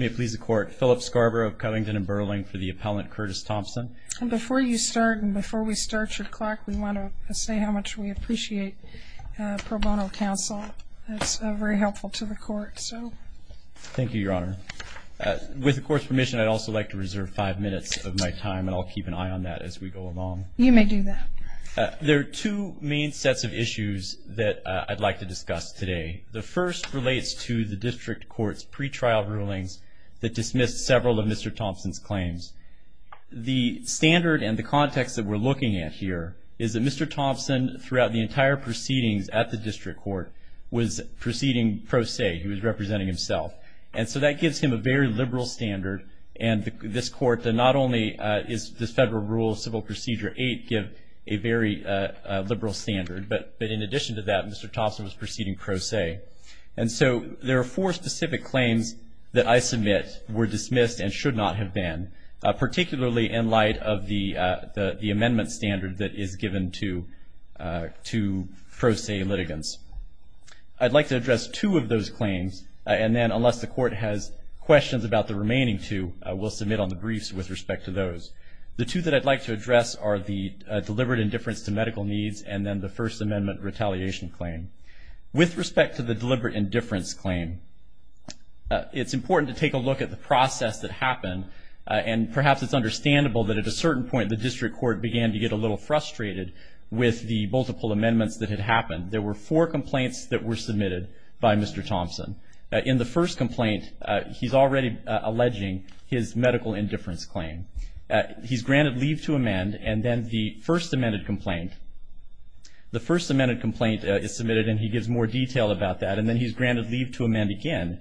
May it please the court, Philip Scarborough of Covington and Burling for the appellant Curtis Thompson. Before you start and before we start your clock we want to say how much we appreciate pro bono counsel. It's very helpful to the court so. Thank you your honor. With the court's permission I'd also like to reserve five minutes of my time and I'll keep an eye on that as we go along. You may do that. There are two main sets of issues that I'd like to discuss today. The first relates to the district court's pretrial rulings that dismissed several of Mr. Thompson's claims. The standard and the context that we're looking at here is that Mr. Thompson throughout the entire proceedings at the district court was proceeding pro se. He was representing himself and so that gives him a very liberal standard and this court that not only is this federal rule civil procedure 8 give a very liberal standard but but in addition to that Mr. Thompson was proceeding pro se and so there are four specific claims that I submit were dismissed and should not have been particularly in light of the the amendment standard that is given to to pro se litigants. I'd like to address two of those claims and then unless the court has questions about the remaining two I will submit on the briefs with respect to those. The two that I'd like to address are the deliberate indifference to medical needs and then the first amendment retaliation claim. With respect to the deliberate indifference claim it's important to take a look at the process that happened and perhaps it's understandable that at a certain point the district court began to get a little frustrated with the multiple amendments that had happened. There were four complaints that were submitted by Mr. Thompson. In the first complaint he's already alleging his medical indifference claim. He's granted leave to amend and then the first amended complaint the first amended complaint is submitted and he gives more detail about that and then he's granted leave to amend again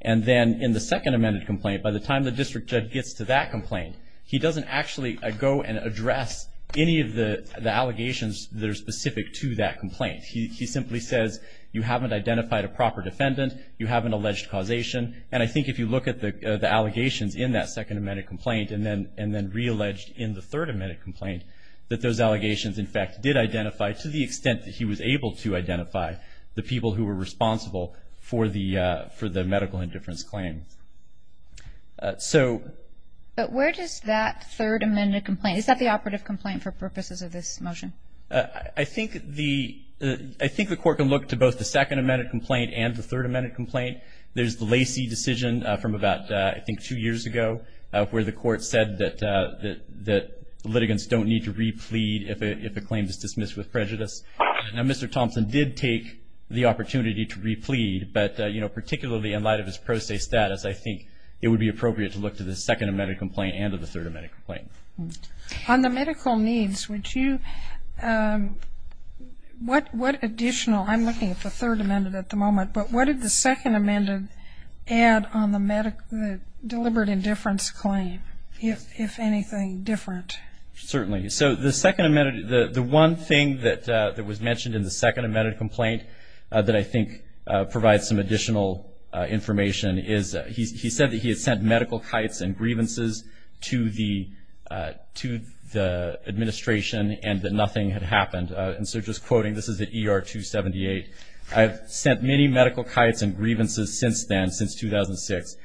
and then in the second amended complaint by the time the district judge gets to that complaint he doesn't actually go and address any of the the allegations that are specific to that complaint. He simply says you haven't identified a proper defendant you have an alleged causation and I think if you look at the the allegations in that second amended complaint and then re-alleged in the third amended complaint that those allegations in fact did identify to the extent that he was able to identify the people who were responsible for the for the medical indifference claim. So but where does that third amended complaint is that the operative complaint for purposes of this motion? I think the I think the court can look to both the second amended complaint and the third amended complaint there's the Lacey decision from about I think two years ago where the court said that that that litigants don't need to replead if a claim is dismissed with prejudice. Now Mr. Thompson did take the opportunity to replead but you know particularly in light of his pro se status I think it would be appropriate to look to the second amended complaint and of the third amended complaint. On the medical needs would you what what additional I'm looking for third amended at the moment but what did the second amended add on the medical deliberate indifference claim if anything different? Certainly so the second amended the the one thing that that was mentioned in the second amended complaint that I think provides some additional information is he said that he had sent medical kites and grievances to the to the administration and that nothing had happened and so just quoting this is the ER 278 I've sent many medical kites and grievances since then since 2006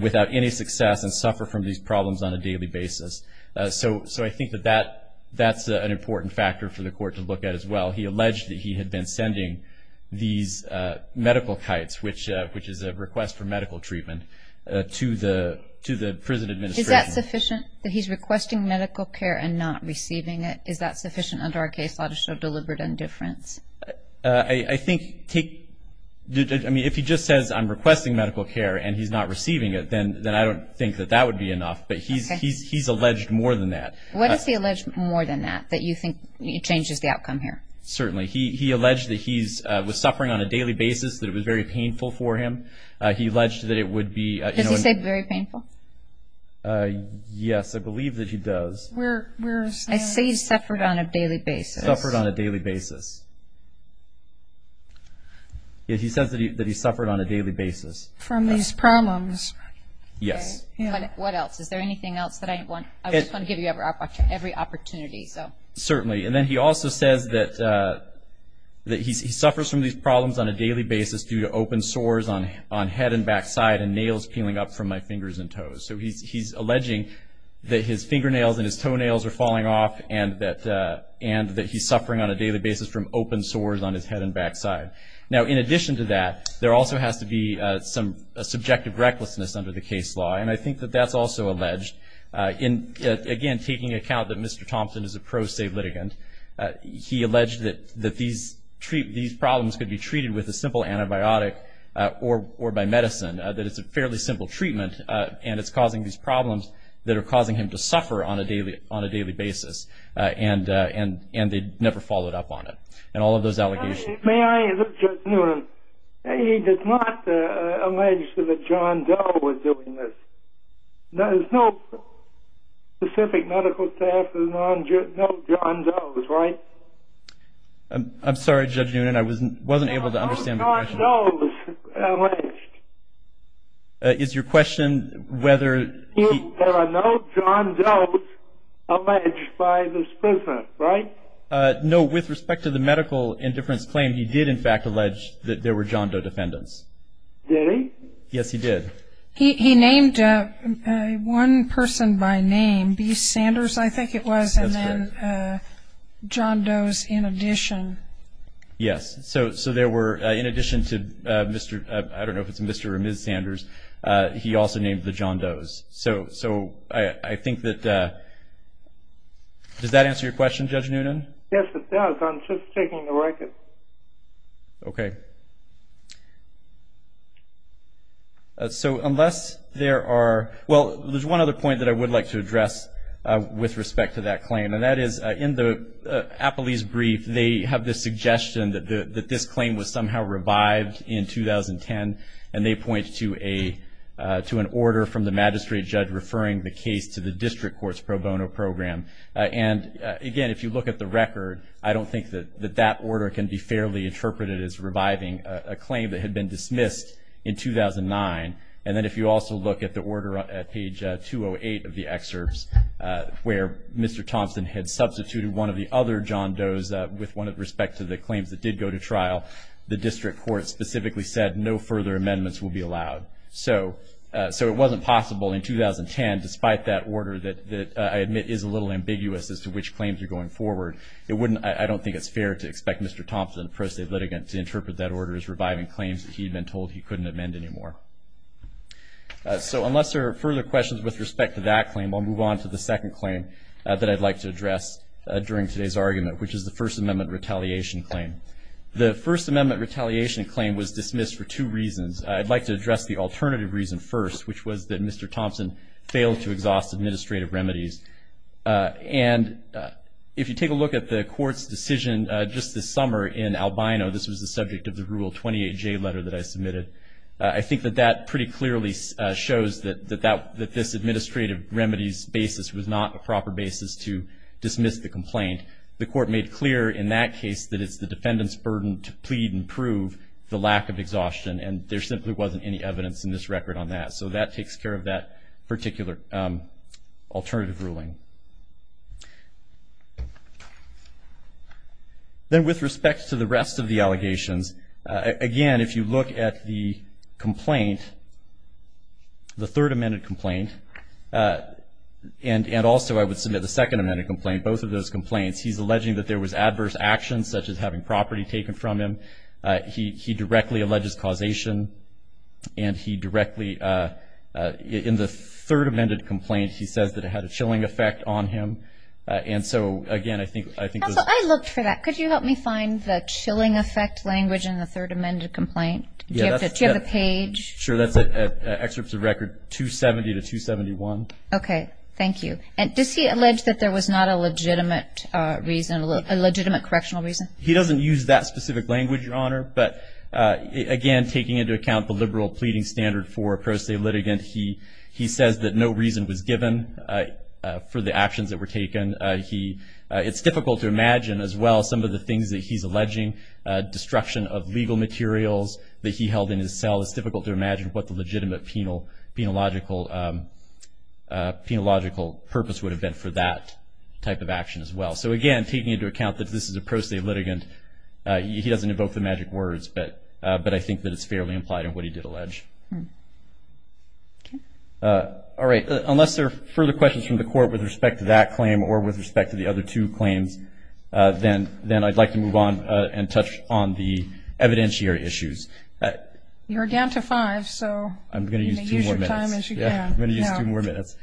without any success and suffer from these problems on a daily basis so so I think that that that's an important factor for the court to look at as well he alleged that he had been sending these medical kites which which is a request for medical treatment to the to the prison administration. Is that sufficient that he's requesting medical care and not indifference? I think take I mean if he just says I'm requesting medical care and he's not receiving it then then I don't think that that would be enough but he's he's he's alleged more than that. What is he alleged more than that that you think it changes the outcome here? Certainly he alleged that he's was suffering on a daily basis that it was very painful for him he alleged that it would be. Does he say very painful? Yes I believe that he does. I say he suffered on a daily basis. He says that he suffered on a daily basis. From these problems? Yes. What else is there anything else that I want I just want to give you every opportunity so. Certainly and then he also says that that he suffers from these problems on a daily basis due to open sores on on head and backside and nails peeling up from my fingers and toes so he's alleging that his fingernails and his toenails are falling off and that and that he's suffering on a daily basis from open sores on his head and backside. Now in addition to that there also has to be some subjective recklessness under the case law and I think that that's also alleged in again taking account that Mr. Thompson is a pro se litigant he alleged that that these treat these problems could be treated with a simple antibiotic or or by medicine that it's a fairly simple treatment and it's causing these problems that are causing him to suffer on a daily on a daily basis and and and they'd never follow it up on it and all of those allegations. May I, Judge Noonan, he did not allege that John Doe was doing this. There's no specific medical staff that know John Doe, right? I'm sorry Judge Noonan I wasn't wasn't able to understand. Is your question whether there are no John Doe alleged by this person, right? No with respect to the medical indifference claim he did in fact allege that there were John Doe defendants. Did he? Yes he did. He named one person by name B. Sanders I think it was and then John Doe's in addition. Yes so so there were in addition to Mr. I don't know if it's Mr. or Ms. Sanders he also named the John Doe's. So so I think that does that answer your question Judge Noonan? Yes it does. I'm just taking the record. Okay. So unless there are well there's one other point that I would like to address with respect to that claim and that is in the Appley's brief they have this suggestion that the that claim was somehow revived in 2010 and they point to a to an order from the magistrate judge referring the case to the district court's pro bono program and again if you look at the record I don't think that that order can be fairly interpreted as reviving a claim that had been dismissed in 2009 and then if you also look at the order at page 208 of the excerpts where Mr. Thompson had substituted one of the other John Doe's with one of respect to the claims that did go to trial the district court specifically said no further amendments will be allowed. So so it wasn't possible in 2010 despite that order that that I admit is a little ambiguous as to which claims are going forward it wouldn't I don't think it's fair to expect Mr. Thompson a pro se litigant to interpret that order as reviving claims that he'd been told he couldn't amend anymore. So unless there are further questions with respect to that claim I'll move on to the second claim that I'd like to address during today's argument which is the First Amendment retaliation claim. The First Amendment retaliation claim was dismissed for two reasons I'd like to address the alternative reason first which was that Mr. Thompson failed to exhaust administrative remedies and if you take a look at the court's decision just this summer in Albino this was the subject of the rule 28 J letter that I submitted I think that that pretty clearly shows that that that this administrative remedies basis was not a clear in that case that it's the defendant's burden to plead and prove the lack of exhaustion and there simply wasn't any evidence in this record on that so that takes care of that particular alternative ruling. Then with respect to the rest of the allegations again if you look at the complaint the Third Amendment complaint and and also I would submit the Second Amendment complaint both of those complaints he's alleging that there was adverse actions such as having property taken from him he he directly alleges causation and he directly in the Third Amendment complaint he says that it had a chilling effect on him and so again I think I think I looked for that could you help me find the chilling effect language in the Third Amendment complaint? Do you have the page? Sure that's it excerpts of record 270 to 271. Okay thank you and does he allege that there was not a legitimate reason a legitimate correctional reason? He doesn't use that specific language your honor but again taking into account the liberal pleading standard for a pro se litigant he he says that no reason was given for the actions that were taken he it's difficult to imagine as well some of the things that he's alleging destruction of legal materials that he held in his cell it's difficult to imagine what the legitimate penal logical penalogical purpose would have been for that type of action as well so again taking into account that this is a pro se litigant he doesn't evoke the magic words but but I think that it's fairly implied in what he did allege. All right unless there are further questions from the court with respect to that claim or with respect to the other two claims then then I'd like to move on and touch on the evidentiary issues. You're down to five so I'm gonna use your time as you can. I'm gonna use two more minutes.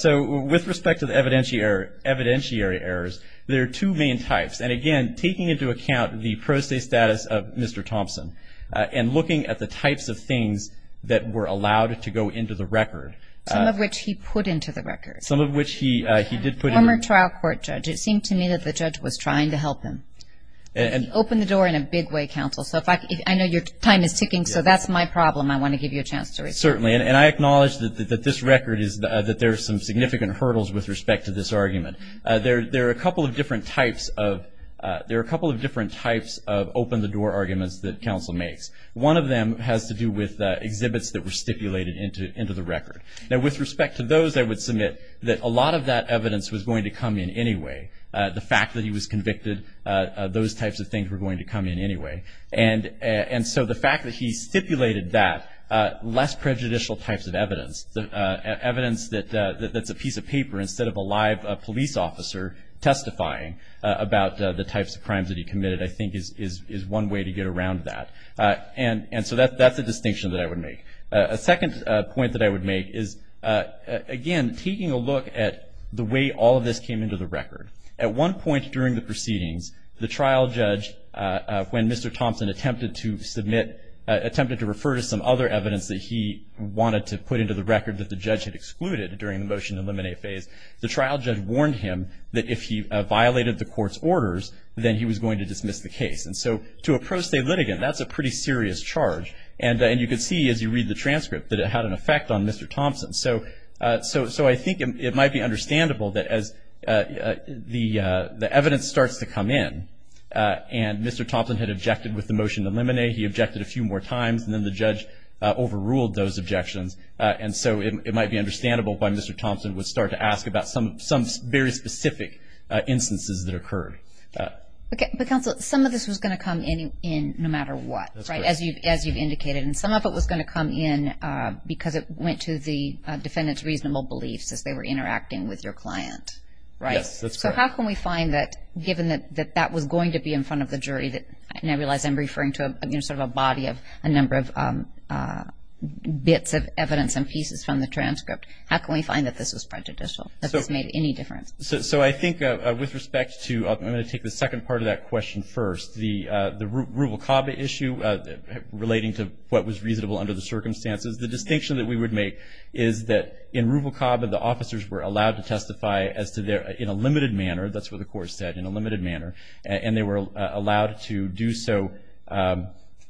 So with respect to the evidentiary errors there are two main types and again taking into account the pro se status of Mr. Thompson and looking at the types of things that were allowed to go into the record. Some of which he put into the record. Some of which he he did put in. Former trial court judge it seemed to me that the judge was trying to help him and open the door in a big way counsel so if I know your time is ticking so that's my problem I want to give you a And I acknowledge that this record is that there are some significant hurdles with respect to this argument. There are a couple of different types of there are a couple of different types of open the door arguments that counsel makes. One of them has to do with exhibits that were stipulated into into the record. Now with respect to those I would submit that a lot of that evidence was going to come in anyway. The fact that he was convicted those types of things were going to come in anyway and and so the fact that he stipulated that less prejudicial types of evidence the evidence that that's a piece of paper instead of a live police officer testifying about the types of crimes that he committed I think is is is one way to get around that. And and so that's that's a distinction that I would make. A second point that I would make is again taking a look at the way all of this came into the record. At one point during the proceedings the trial judge when Mr. Thompson attempted to submit attempted to refer to some other evidence that he wanted to put into the record that the judge had excluded during the motion to eliminate phase the trial judge warned him that if he violated the court's orders then he was going to dismiss the case. And so to a pro se litigant that's a pretty serious charge and and you could see as you read the transcript that it had an effect on Mr. Thompson. So so so I think it might be understandable that as the the evidence starts to come in and Mr. Thompson had objected with the motion to eliminate he objected a few more times and then the judge overruled those objections and so it might be understandable why Mr. Thompson would start to ask about some some very specific instances that occurred. But counsel some of this was going to come in in no matter what right as you as you've indicated and some of it was going to come in because it went to the defendant's reasonable beliefs as they were interacting with your client right? So how can we find that given that that that was going to be in front of the you know sort of a body of a number of bits of evidence and pieces from the transcript how can we find that this was prejudicial? That this made any difference? So I think with respect to I'm going to take the second part of that question first the the Rubel-Kaba issue relating to what was reasonable under the circumstances the distinction that we would make is that in Rubel-Kaba the officers were allowed to testify as to their in a limited manner that's what the court said in a limited manner and they were allowed to do so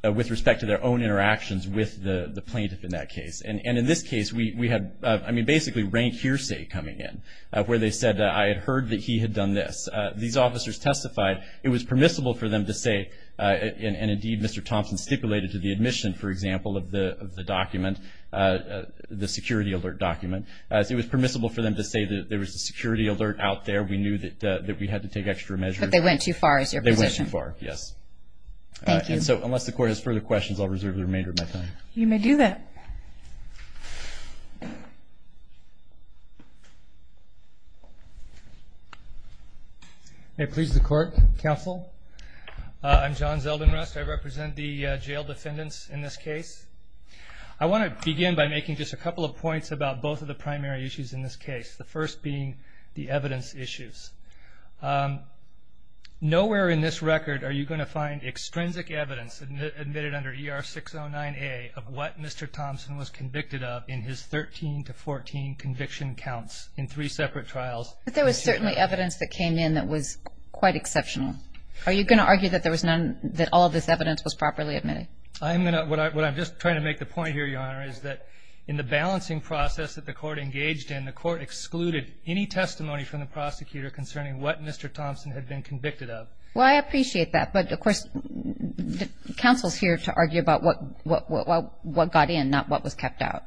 with respect to their own interactions with the the plaintiff in that case and in this case we had I mean basically rank hearsay coming in where they said I had heard that he had done this. These officers testified it was permissible for them to say and indeed Mr. Thompson stipulated to the admission for example of the document the security alert document as it was permissible for them to say that there was a security alert out there we knew that that we had to take extra measures. But they went too far is your position? They went too far, yes. Thank you. So unless the court has further questions I'll reserve the remainder of my time. You may do that. May it please the court, counsel. I'm John Zeldinrust. I represent the jail defendants in this case. I want to begin by making just a couple of points about both of the primary issues in this case. The first being the evidence issues. Nowhere in this record are you going to find extrinsic evidence admitted under ER 609A of what Mr. Thompson was convicted of in his 13 to 14 conviction counts in three separate trials. But there was certainly evidence that came in that was quite exceptional. Are you going to argue that there was none that all this evidence was properly admitted? I'm gonna what I'm just trying to make the point here, Your Honor, is that in the balancing process that the court engaged in, the court excluded any testimony from the prosecutor concerning what Mr. Thompson had been convicted of. Well I appreciate that, but of course the counsel's here to argue about what got in, not what was kept out.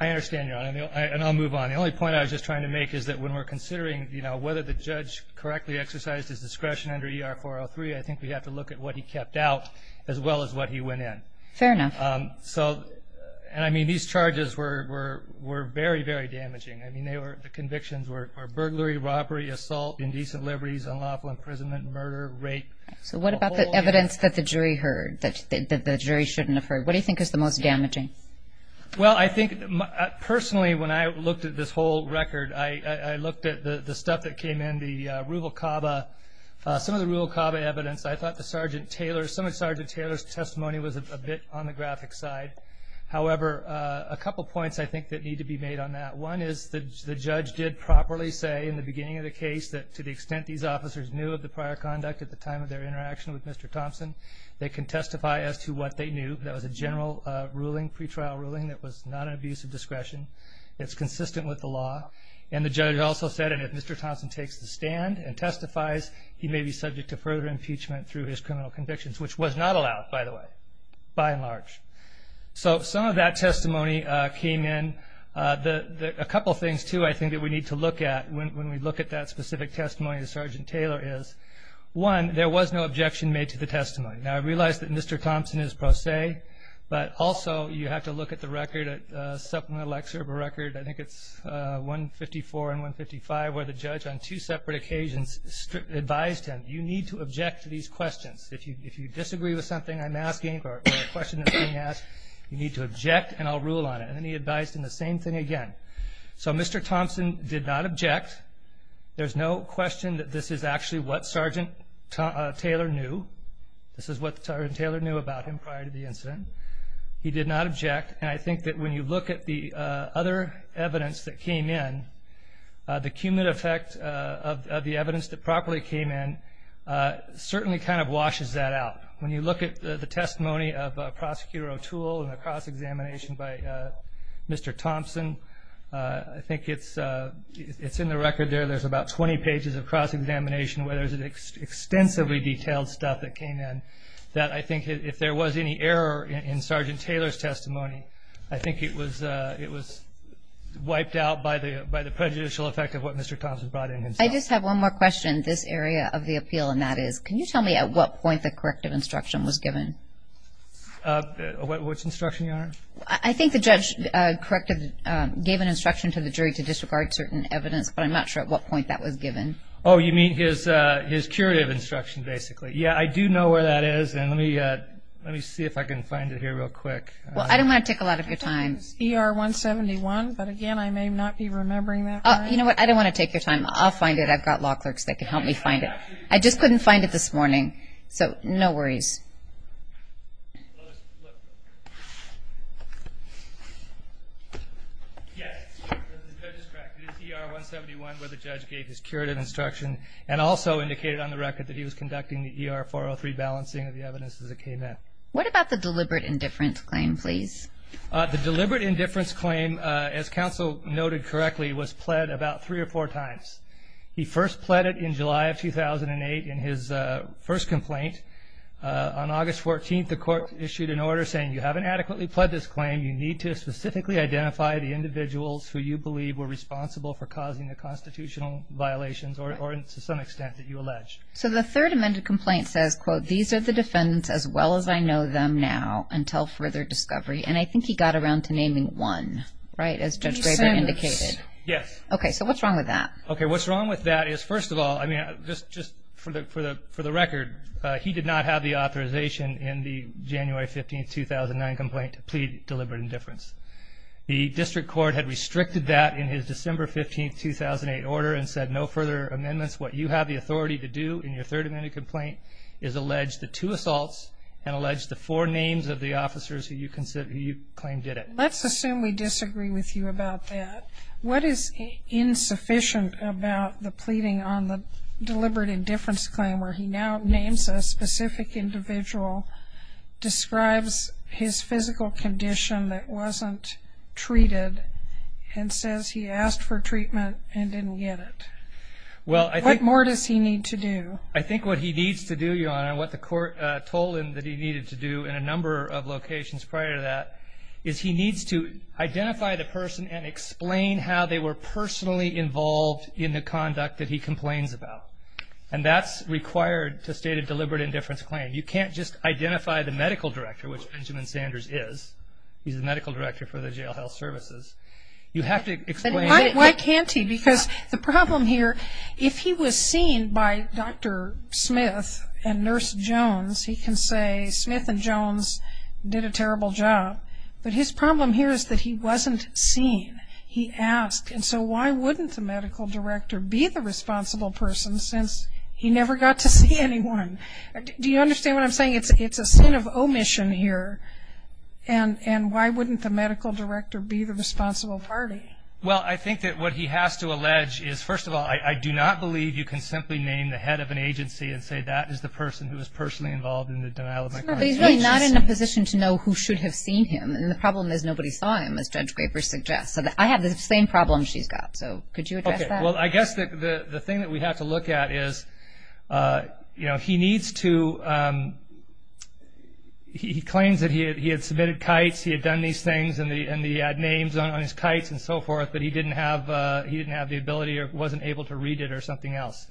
I understand, Your Honor, and I'll move on. The only point I was just trying to make is that when we're considering, you know, whether the judge correctly exercised his discretion under ER 403, I think we have to look at what he kept out as well as what he went in. Fair enough. So, and I mean, these charges were very, very damaging. I mean, the convictions were burglary, robbery, assault, indecent liberties, unlawful imprisonment, murder, rape. So what about the evidence that the jury heard, that the jury shouldn't have heard? What do you think is the most damaging? Well, I think, personally, when I looked at this whole record, I looked at the stuff that came in, the ruble cava, some of the ruble cava evidence. I think the jury's testimony was a bit on the graphic side. However, a couple points I think that need to be made on that. One is the judge did properly say in the beginning of the case that to the extent these officers knew of the prior conduct at the time of their interaction with Mr. Thompson, they can testify as to what they knew. That was a general ruling, pretrial ruling, that was not an abuse of discretion. It's consistent with the law. And the judge also said, and if Mr. Thompson takes the stand and testifies, he may be subject to further impeachment through his criminal convictions, which was not allowed, by the way, by and large. So some of that testimony came in. A couple things, too, I think that we need to look at when we look at that specific testimony, as Sergeant Taylor is. One, there was no objection made to the testimony. Now, I realize that Mr. Thompson is pro se, but also you have to look at the record, at supplemental excerpt of a record, I think it's 154 and 155, where the judge on two separate occasions advised him, you need to object to these questions. If you disagree with something I'm asking or a question that's being asked, you need to object and I'll rule on it. And then he advised him the same thing again. So Mr. Thompson did not object. There's no question that this is actually what Sergeant Taylor knew. This is what Sergeant Taylor knew about him prior to the incident. He did not object. And I think that when you look at the other evidence that came in, the cumulative effect of the evidence that properly came in certainly kind of washes that out. When you look at the testimony of Prosecutor O'Toole and the cross-examination by Mr. Thompson, I think it's in the record there. There's about 20 pages of cross-examination where there's an extensively detailed stuff that came in that I think if there was any error in Sergeant Taylor's testimony, I think it was wiped out by the prejudicial effect of what Mr. Thompson brought in himself. I just have one more question. This area of the appeal and that is, can you tell me at what point the corrective instruction was given? Which instruction, Your Honor? I think the judge gave an instruction to the jury to disregard certain evidence, but I'm not sure at what point that was given. Oh, you mean his curative instruction, basically. Yeah, I do know where that is, and let me see if I can find it here real quick. Well, I don't want to take a lot of your time. I think it's ER 171, but again, I may not be remembering that correctly. You know what? I don't want to take your time. I'll find it. I've got law clerks that can help me find it. I just couldn't find it this morning, so no worries. Yes, the judge is correct. It is ER 171 where the judge gave his curative instruction and also indicated on the record that he was conducting the ER 403 balancing of the evidence as it came in. What about the deliberate indifference claim, please? The deliberate indifference claim, as counsel noted correctly, was pled about three or four times. He first pled it in July of 2008 in his first complaint. On August 14th, the court issued an order saying, you haven't adequately pled this claim. You need to specifically identify the individuals who you believe were responsible for causing the constitutional violations or to some extent that you allege. So the third amended complaint says, quote, these are the defendants as well as I know them now until further discovery. And I think he got around to naming one, right, as Judge Draper indicated. Yes. Okay, so what's wrong with that? Okay, what's wrong with that is, first of all, I mean, just for the record, he did not have the authorization in the January 15th, 2009 complaint to plead deliberate indifference. The district court had restricted that in his December 15th, 2008 order and said, no further amendments. What you have the right to do in your third amended complaint is allege the two assaults and allege the four names of the officers who you claim did it. Let's assume we disagree with you about that. What is insufficient about the pleading on the deliberate indifference claim where he now names a specific individual, describes his physical condition that wasn't treated, and says he asked for treatment and didn't get it? Well, I think... I think what he needs to do, Your Honor, and what the court told him that he needed to do in a number of locations prior to that, is he needs to identify the person and explain how they were personally involved in the conduct that he complains about. And that's required to state a deliberate indifference claim. You can't just identify the medical director, which Benjamin Sanders is. He's the medical director for the jail health services. You have to explain... Why can't he? Because the problem here, if he was seen by Dr. Smith and Nurse Jones, he can say, Smith and Jones did a terrible job. But his problem here is that he wasn't seen. He asked. And so why wouldn't the medical director be the responsible person since he never got to see anyone? Do you understand what I'm saying? It's a sin of omission here. And why wouldn't the medical director be the responsible party? Well, I think that what he has to allege is, first of all, I do not believe you can simply name the head of an agency and say, that is the person who was personally involved in the denial of my client's agency. He's really not in a position to know who should have seen him. And the problem is, nobody saw him, as Judge Graper suggests. So I have the same problem she's got. So could you address that? Okay. Well, I guess the thing that we have to look at is, he needs to... He claims that he had submitted kites, he had done these things, and he had names on his kites and so forth, but he didn't have the ability or wasn't able to read it or something else.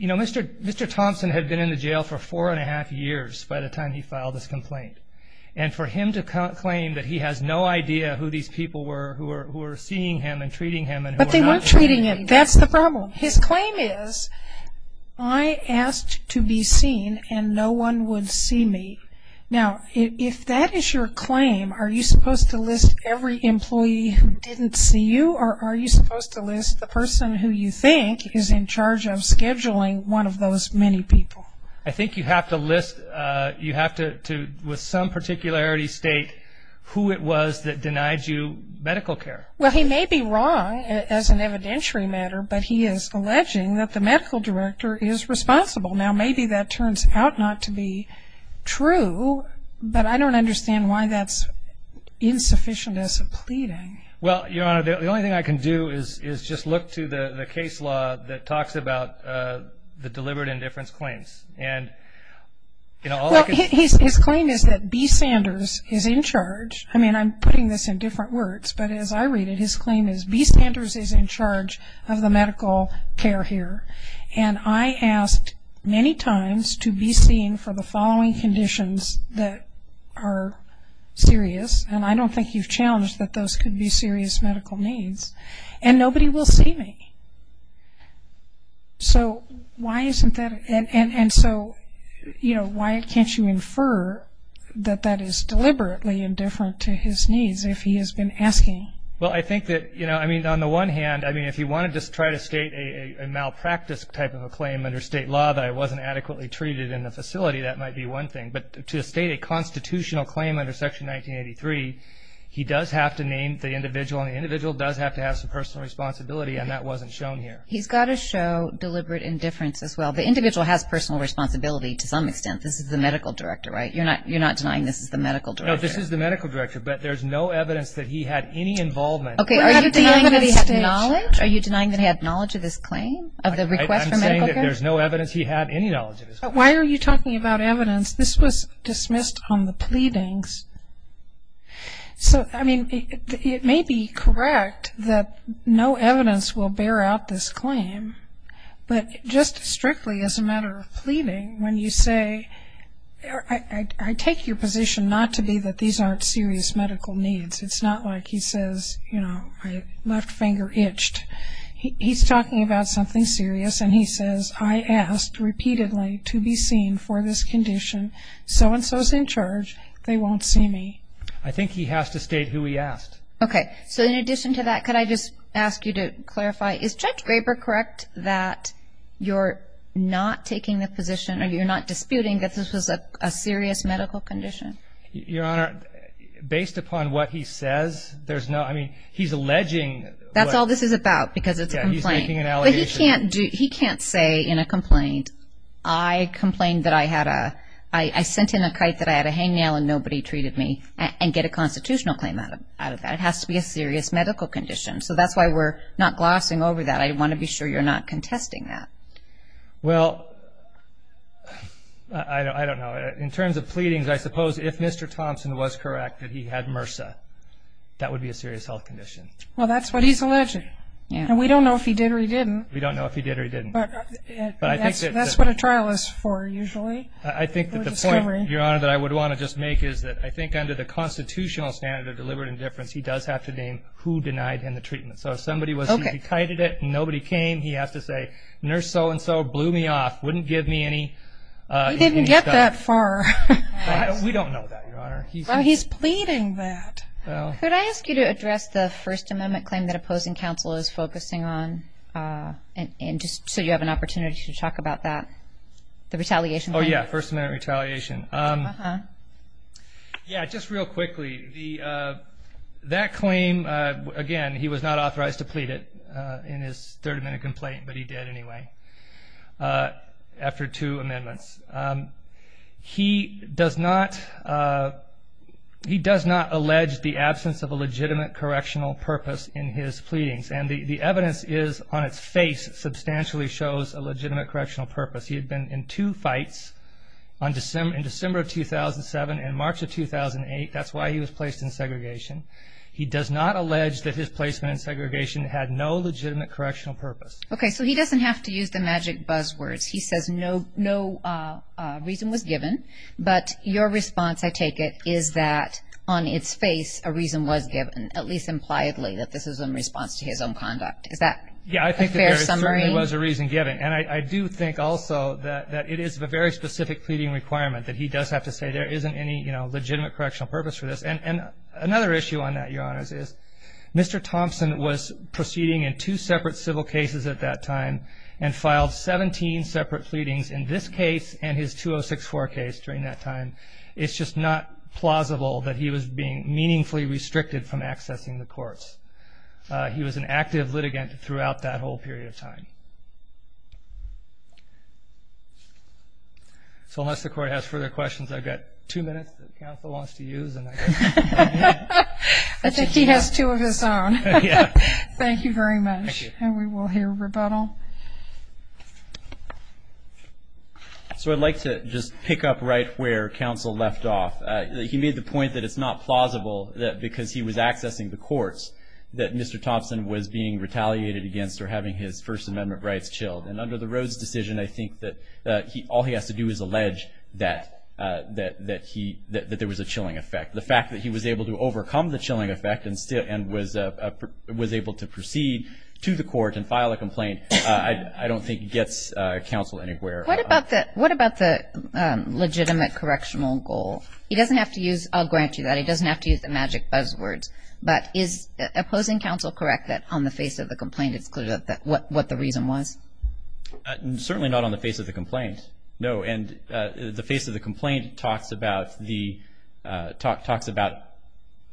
Mr. Thompson had been in the jail for four and a half years by the time he filed this complaint. And for him to claim that he has no idea who these people were, who were seeing him and treating him and who were not... But they weren't treating him. That's the problem. His claim is, I asked to be seen and no one would see me. Now, if that is your claim, are you supposed to list every employee who didn't see you? Or are you supposed to list the person who you think is in charge of scheduling one of those many people? I think you have to list... You have to, with some particularity, state who it was that denied you medical care. Well, he may be wrong as an evidentiary matter, but he is alleging that the claims are not true, but I don't understand why that's insufficient as a pleading. Well, Your Honor, the only thing I can do is just look to the case law that talks about the deliberate indifference claims. Well, his claim is that B. Sanders is in charge. I mean, I'm putting this in different words, but as I read it, his claim is B. Sanders is in charge of the to be seen for the following conditions that are serious, and I don't think you've challenged that those could be serious medical needs, and nobody will see me. So, why isn't that... And so, you know, why can't you infer that that is deliberately indifferent to his needs if he has been asking? Well, I think that, you know, I mean, on the one hand, I mean, if you want to just try to state a malpractice type of a claim under state law that it wasn't adequately treated in the facility, that might be one thing, but to state a constitutional claim under Section 1983, he does have to name the individual, and the individual does have to have some personal responsibility, and that wasn't shown here. He's got to show deliberate indifference as well. The individual has personal responsibility to some extent. This is the medical director, right? You're not denying this is the medical director? No, this is the medical director, but there's no evidence that he had any involvement. Okay, are you denying that he had knowledge? Are you denying that he had knowledge of this claim, of the request for medical care? There's no evidence he had any knowledge of this claim. Why are you talking about evidence? This was dismissed on the pleadings. So, I mean, it may be correct that no evidence will bear out this claim, but just strictly as a matter of pleading, when you say, I take your position not to be that these aren't serious medical needs. It's not like he says, you know, my left about something serious, and he says, I asked repeatedly to be seen for this condition. So and so's in charge. They won't see me. I think he has to state who he asked. Okay, so in addition to that, could I just ask you to clarify, is Judge Graber correct that you're not taking the position, or you're not disputing that this was a serious medical condition? Your Honor, based upon what he says, there's no, I mean, he's alleging That's all this is about, because it's a complaint. He's making an allegation. But he can't say in a complaint, I complained that I had a, I sent in a kite that I had a hangnail and nobody treated me, and get a constitutional claim out of that. It has to be a serious medical condition. So that's why we're not glossing over that. I want to be sure you're not contesting that. Well, I don't know. In terms of pleadings, I suppose if Mr. Thompson was correct that he had MRSA, that would be a serious health condition. Well, that's what he's alleging. And we don't know if he did or he didn't. We don't know if he did or he didn't. But that's what a trial is for, usually. I think that the point, Your Honor, that I would want to just make is that I think under the constitutional standard of deliberate indifference, he does have to name who denied him the treatment. So if somebody was, he kited it, nobody came, he has to say, nurse so-and-so blew me off, wouldn't give me any stuff. He didn't get that far. We don't know that, Your Honor. Well, he's pleading that. Could I ask you to address the First Amendment claim that opposing counsel is focusing on, just so you have an opportunity to talk about that, the retaliation claim? Oh, yeah, First Amendment retaliation. Yeah, just real quickly, that claim, again, he was not authorized to plead it in his Third Amendment complaint, but he did anyway after two amendments. He does not, he does not allege the absence of a legitimate correctional purpose in his pleadings. And the evidence is, on its face, substantially shows a legitimate correctional purpose. He had been in two fights in December of 2007 and March of 2008. That's why he was placed in segregation. He does not allege that his placement in segregation had no legitimate correctional purpose. Okay, so he doesn't have to use the magic buzzwords. He says no reason was given. But your response, I take it, is that on its face, a reason was given, at least impliedly, that this is in response to his own conduct. Is that a fair summary? Yeah, I think there certainly was a reason given. And I do think also that it is a very specific pleading requirement, that he does have to say there isn't any legitimate correctional purpose for this. And another issue on that, Your Honors, is Mr. Thompson was proceeding in two separate civil cases at that time and filed 17 separate pleadings in this case and his 2064 case during that time. It's just not plausible that he was being meaningfully restricted from accessing the courts. He was an active litigant throughout that whole period of time. So unless the Court has further questions, I've got two minutes that counsel wants to use. I think he has two of his own. Thank you very much. And we will hear rebuttal. So I'd like to just pick up right where counsel left off. He made the point that it's not plausible that because he was accessing the courts that Mr. Thompson was being retaliated against for having his First Amendment rights chilled. And under the Rhodes decision, I think that all he has to do is allege that there was a chilling effect. The fact that he was able to overcome the chilling effect and was able to proceed to the court and file a complaint, I don't think gets counsel anywhere. What about the legitimate correctional goal? He doesn't have to use, I'll grant you that, he doesn't have to use the magic buzzwords, but is opposing counsel correct that on the face of the complaint it's clear what the reason was? Certainly not on the face of the complaint, no. And the face of the complaint talks about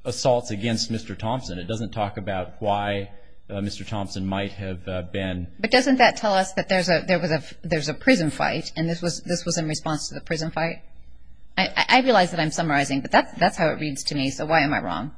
assaults against Mr. Thompson. It doesn't talk about why Mr. Thompson might have been. But doesn't that tell us that there's a prison fight and this was in response to the prison fight? I realize that I'm summarizing, but that's how it reads to me, so why am I wrong?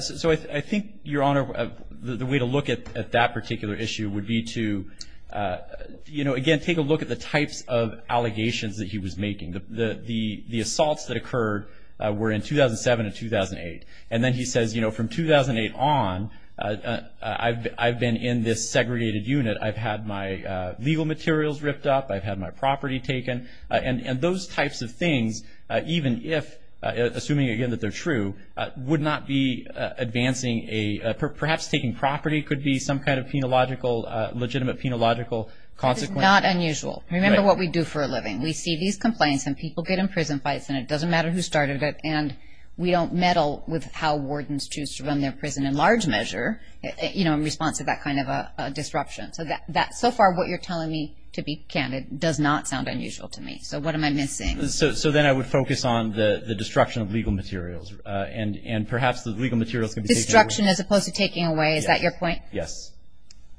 So I think, Your Honor, the way to look at that particular issue would be to, again, take a look at the types of allegations that he was making. The assaults that occurred were in 2007 and 2008. And then he says, from 2008 on, I've been in this segregated unit. I've had my legal materials ripped up. I've had my property taken. And those types of things, even if, assuming, again, that they're true, would not be advancing a, perhaps taking property could be some kind of Not unusual. Remember what we do for a living. We see these complaints and people get in prison fights, and it doesn't matter who started it, and we don't meddle with how wardens choose to run their prison in large measure in response to that kind of a disruption. So far what you're telling me, to be candid, does not sound unusual to me. So what am I missing? So then I would focus on the destruction of legal materials, and perhaps the legal materials can be taken away. Destruction as opposed to taking away, is that your point? Yes.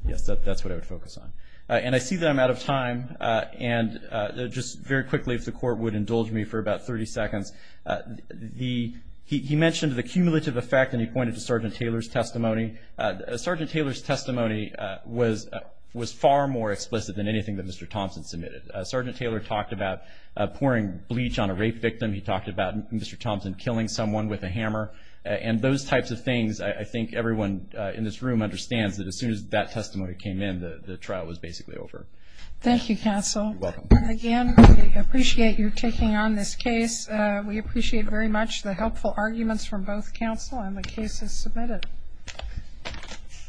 Yes, that's what I would focus on. And I see that I'm out of time, and just very quickly, if the Court would indulge me for about 30 seconds. He mentioned the cumulative effect, and he pointed to Sergeant Taylor's testimony. Sergeant Taylor's testimony was far more explicit than anything that Mr. Thompson submitted. Sergeant Taylor talked about pouring bleach on a rape victim. He talked about Mr. Thompson killing someone with a hammer. And those types of things, I think everyone in this room understands that as soon as that testimony came in, the trial was basically over. Thank you, counsel. You're welcome. Again, we appreciate you taking on this case. We appreciate very much the helpful arguments from both counsel, and the case is submitted.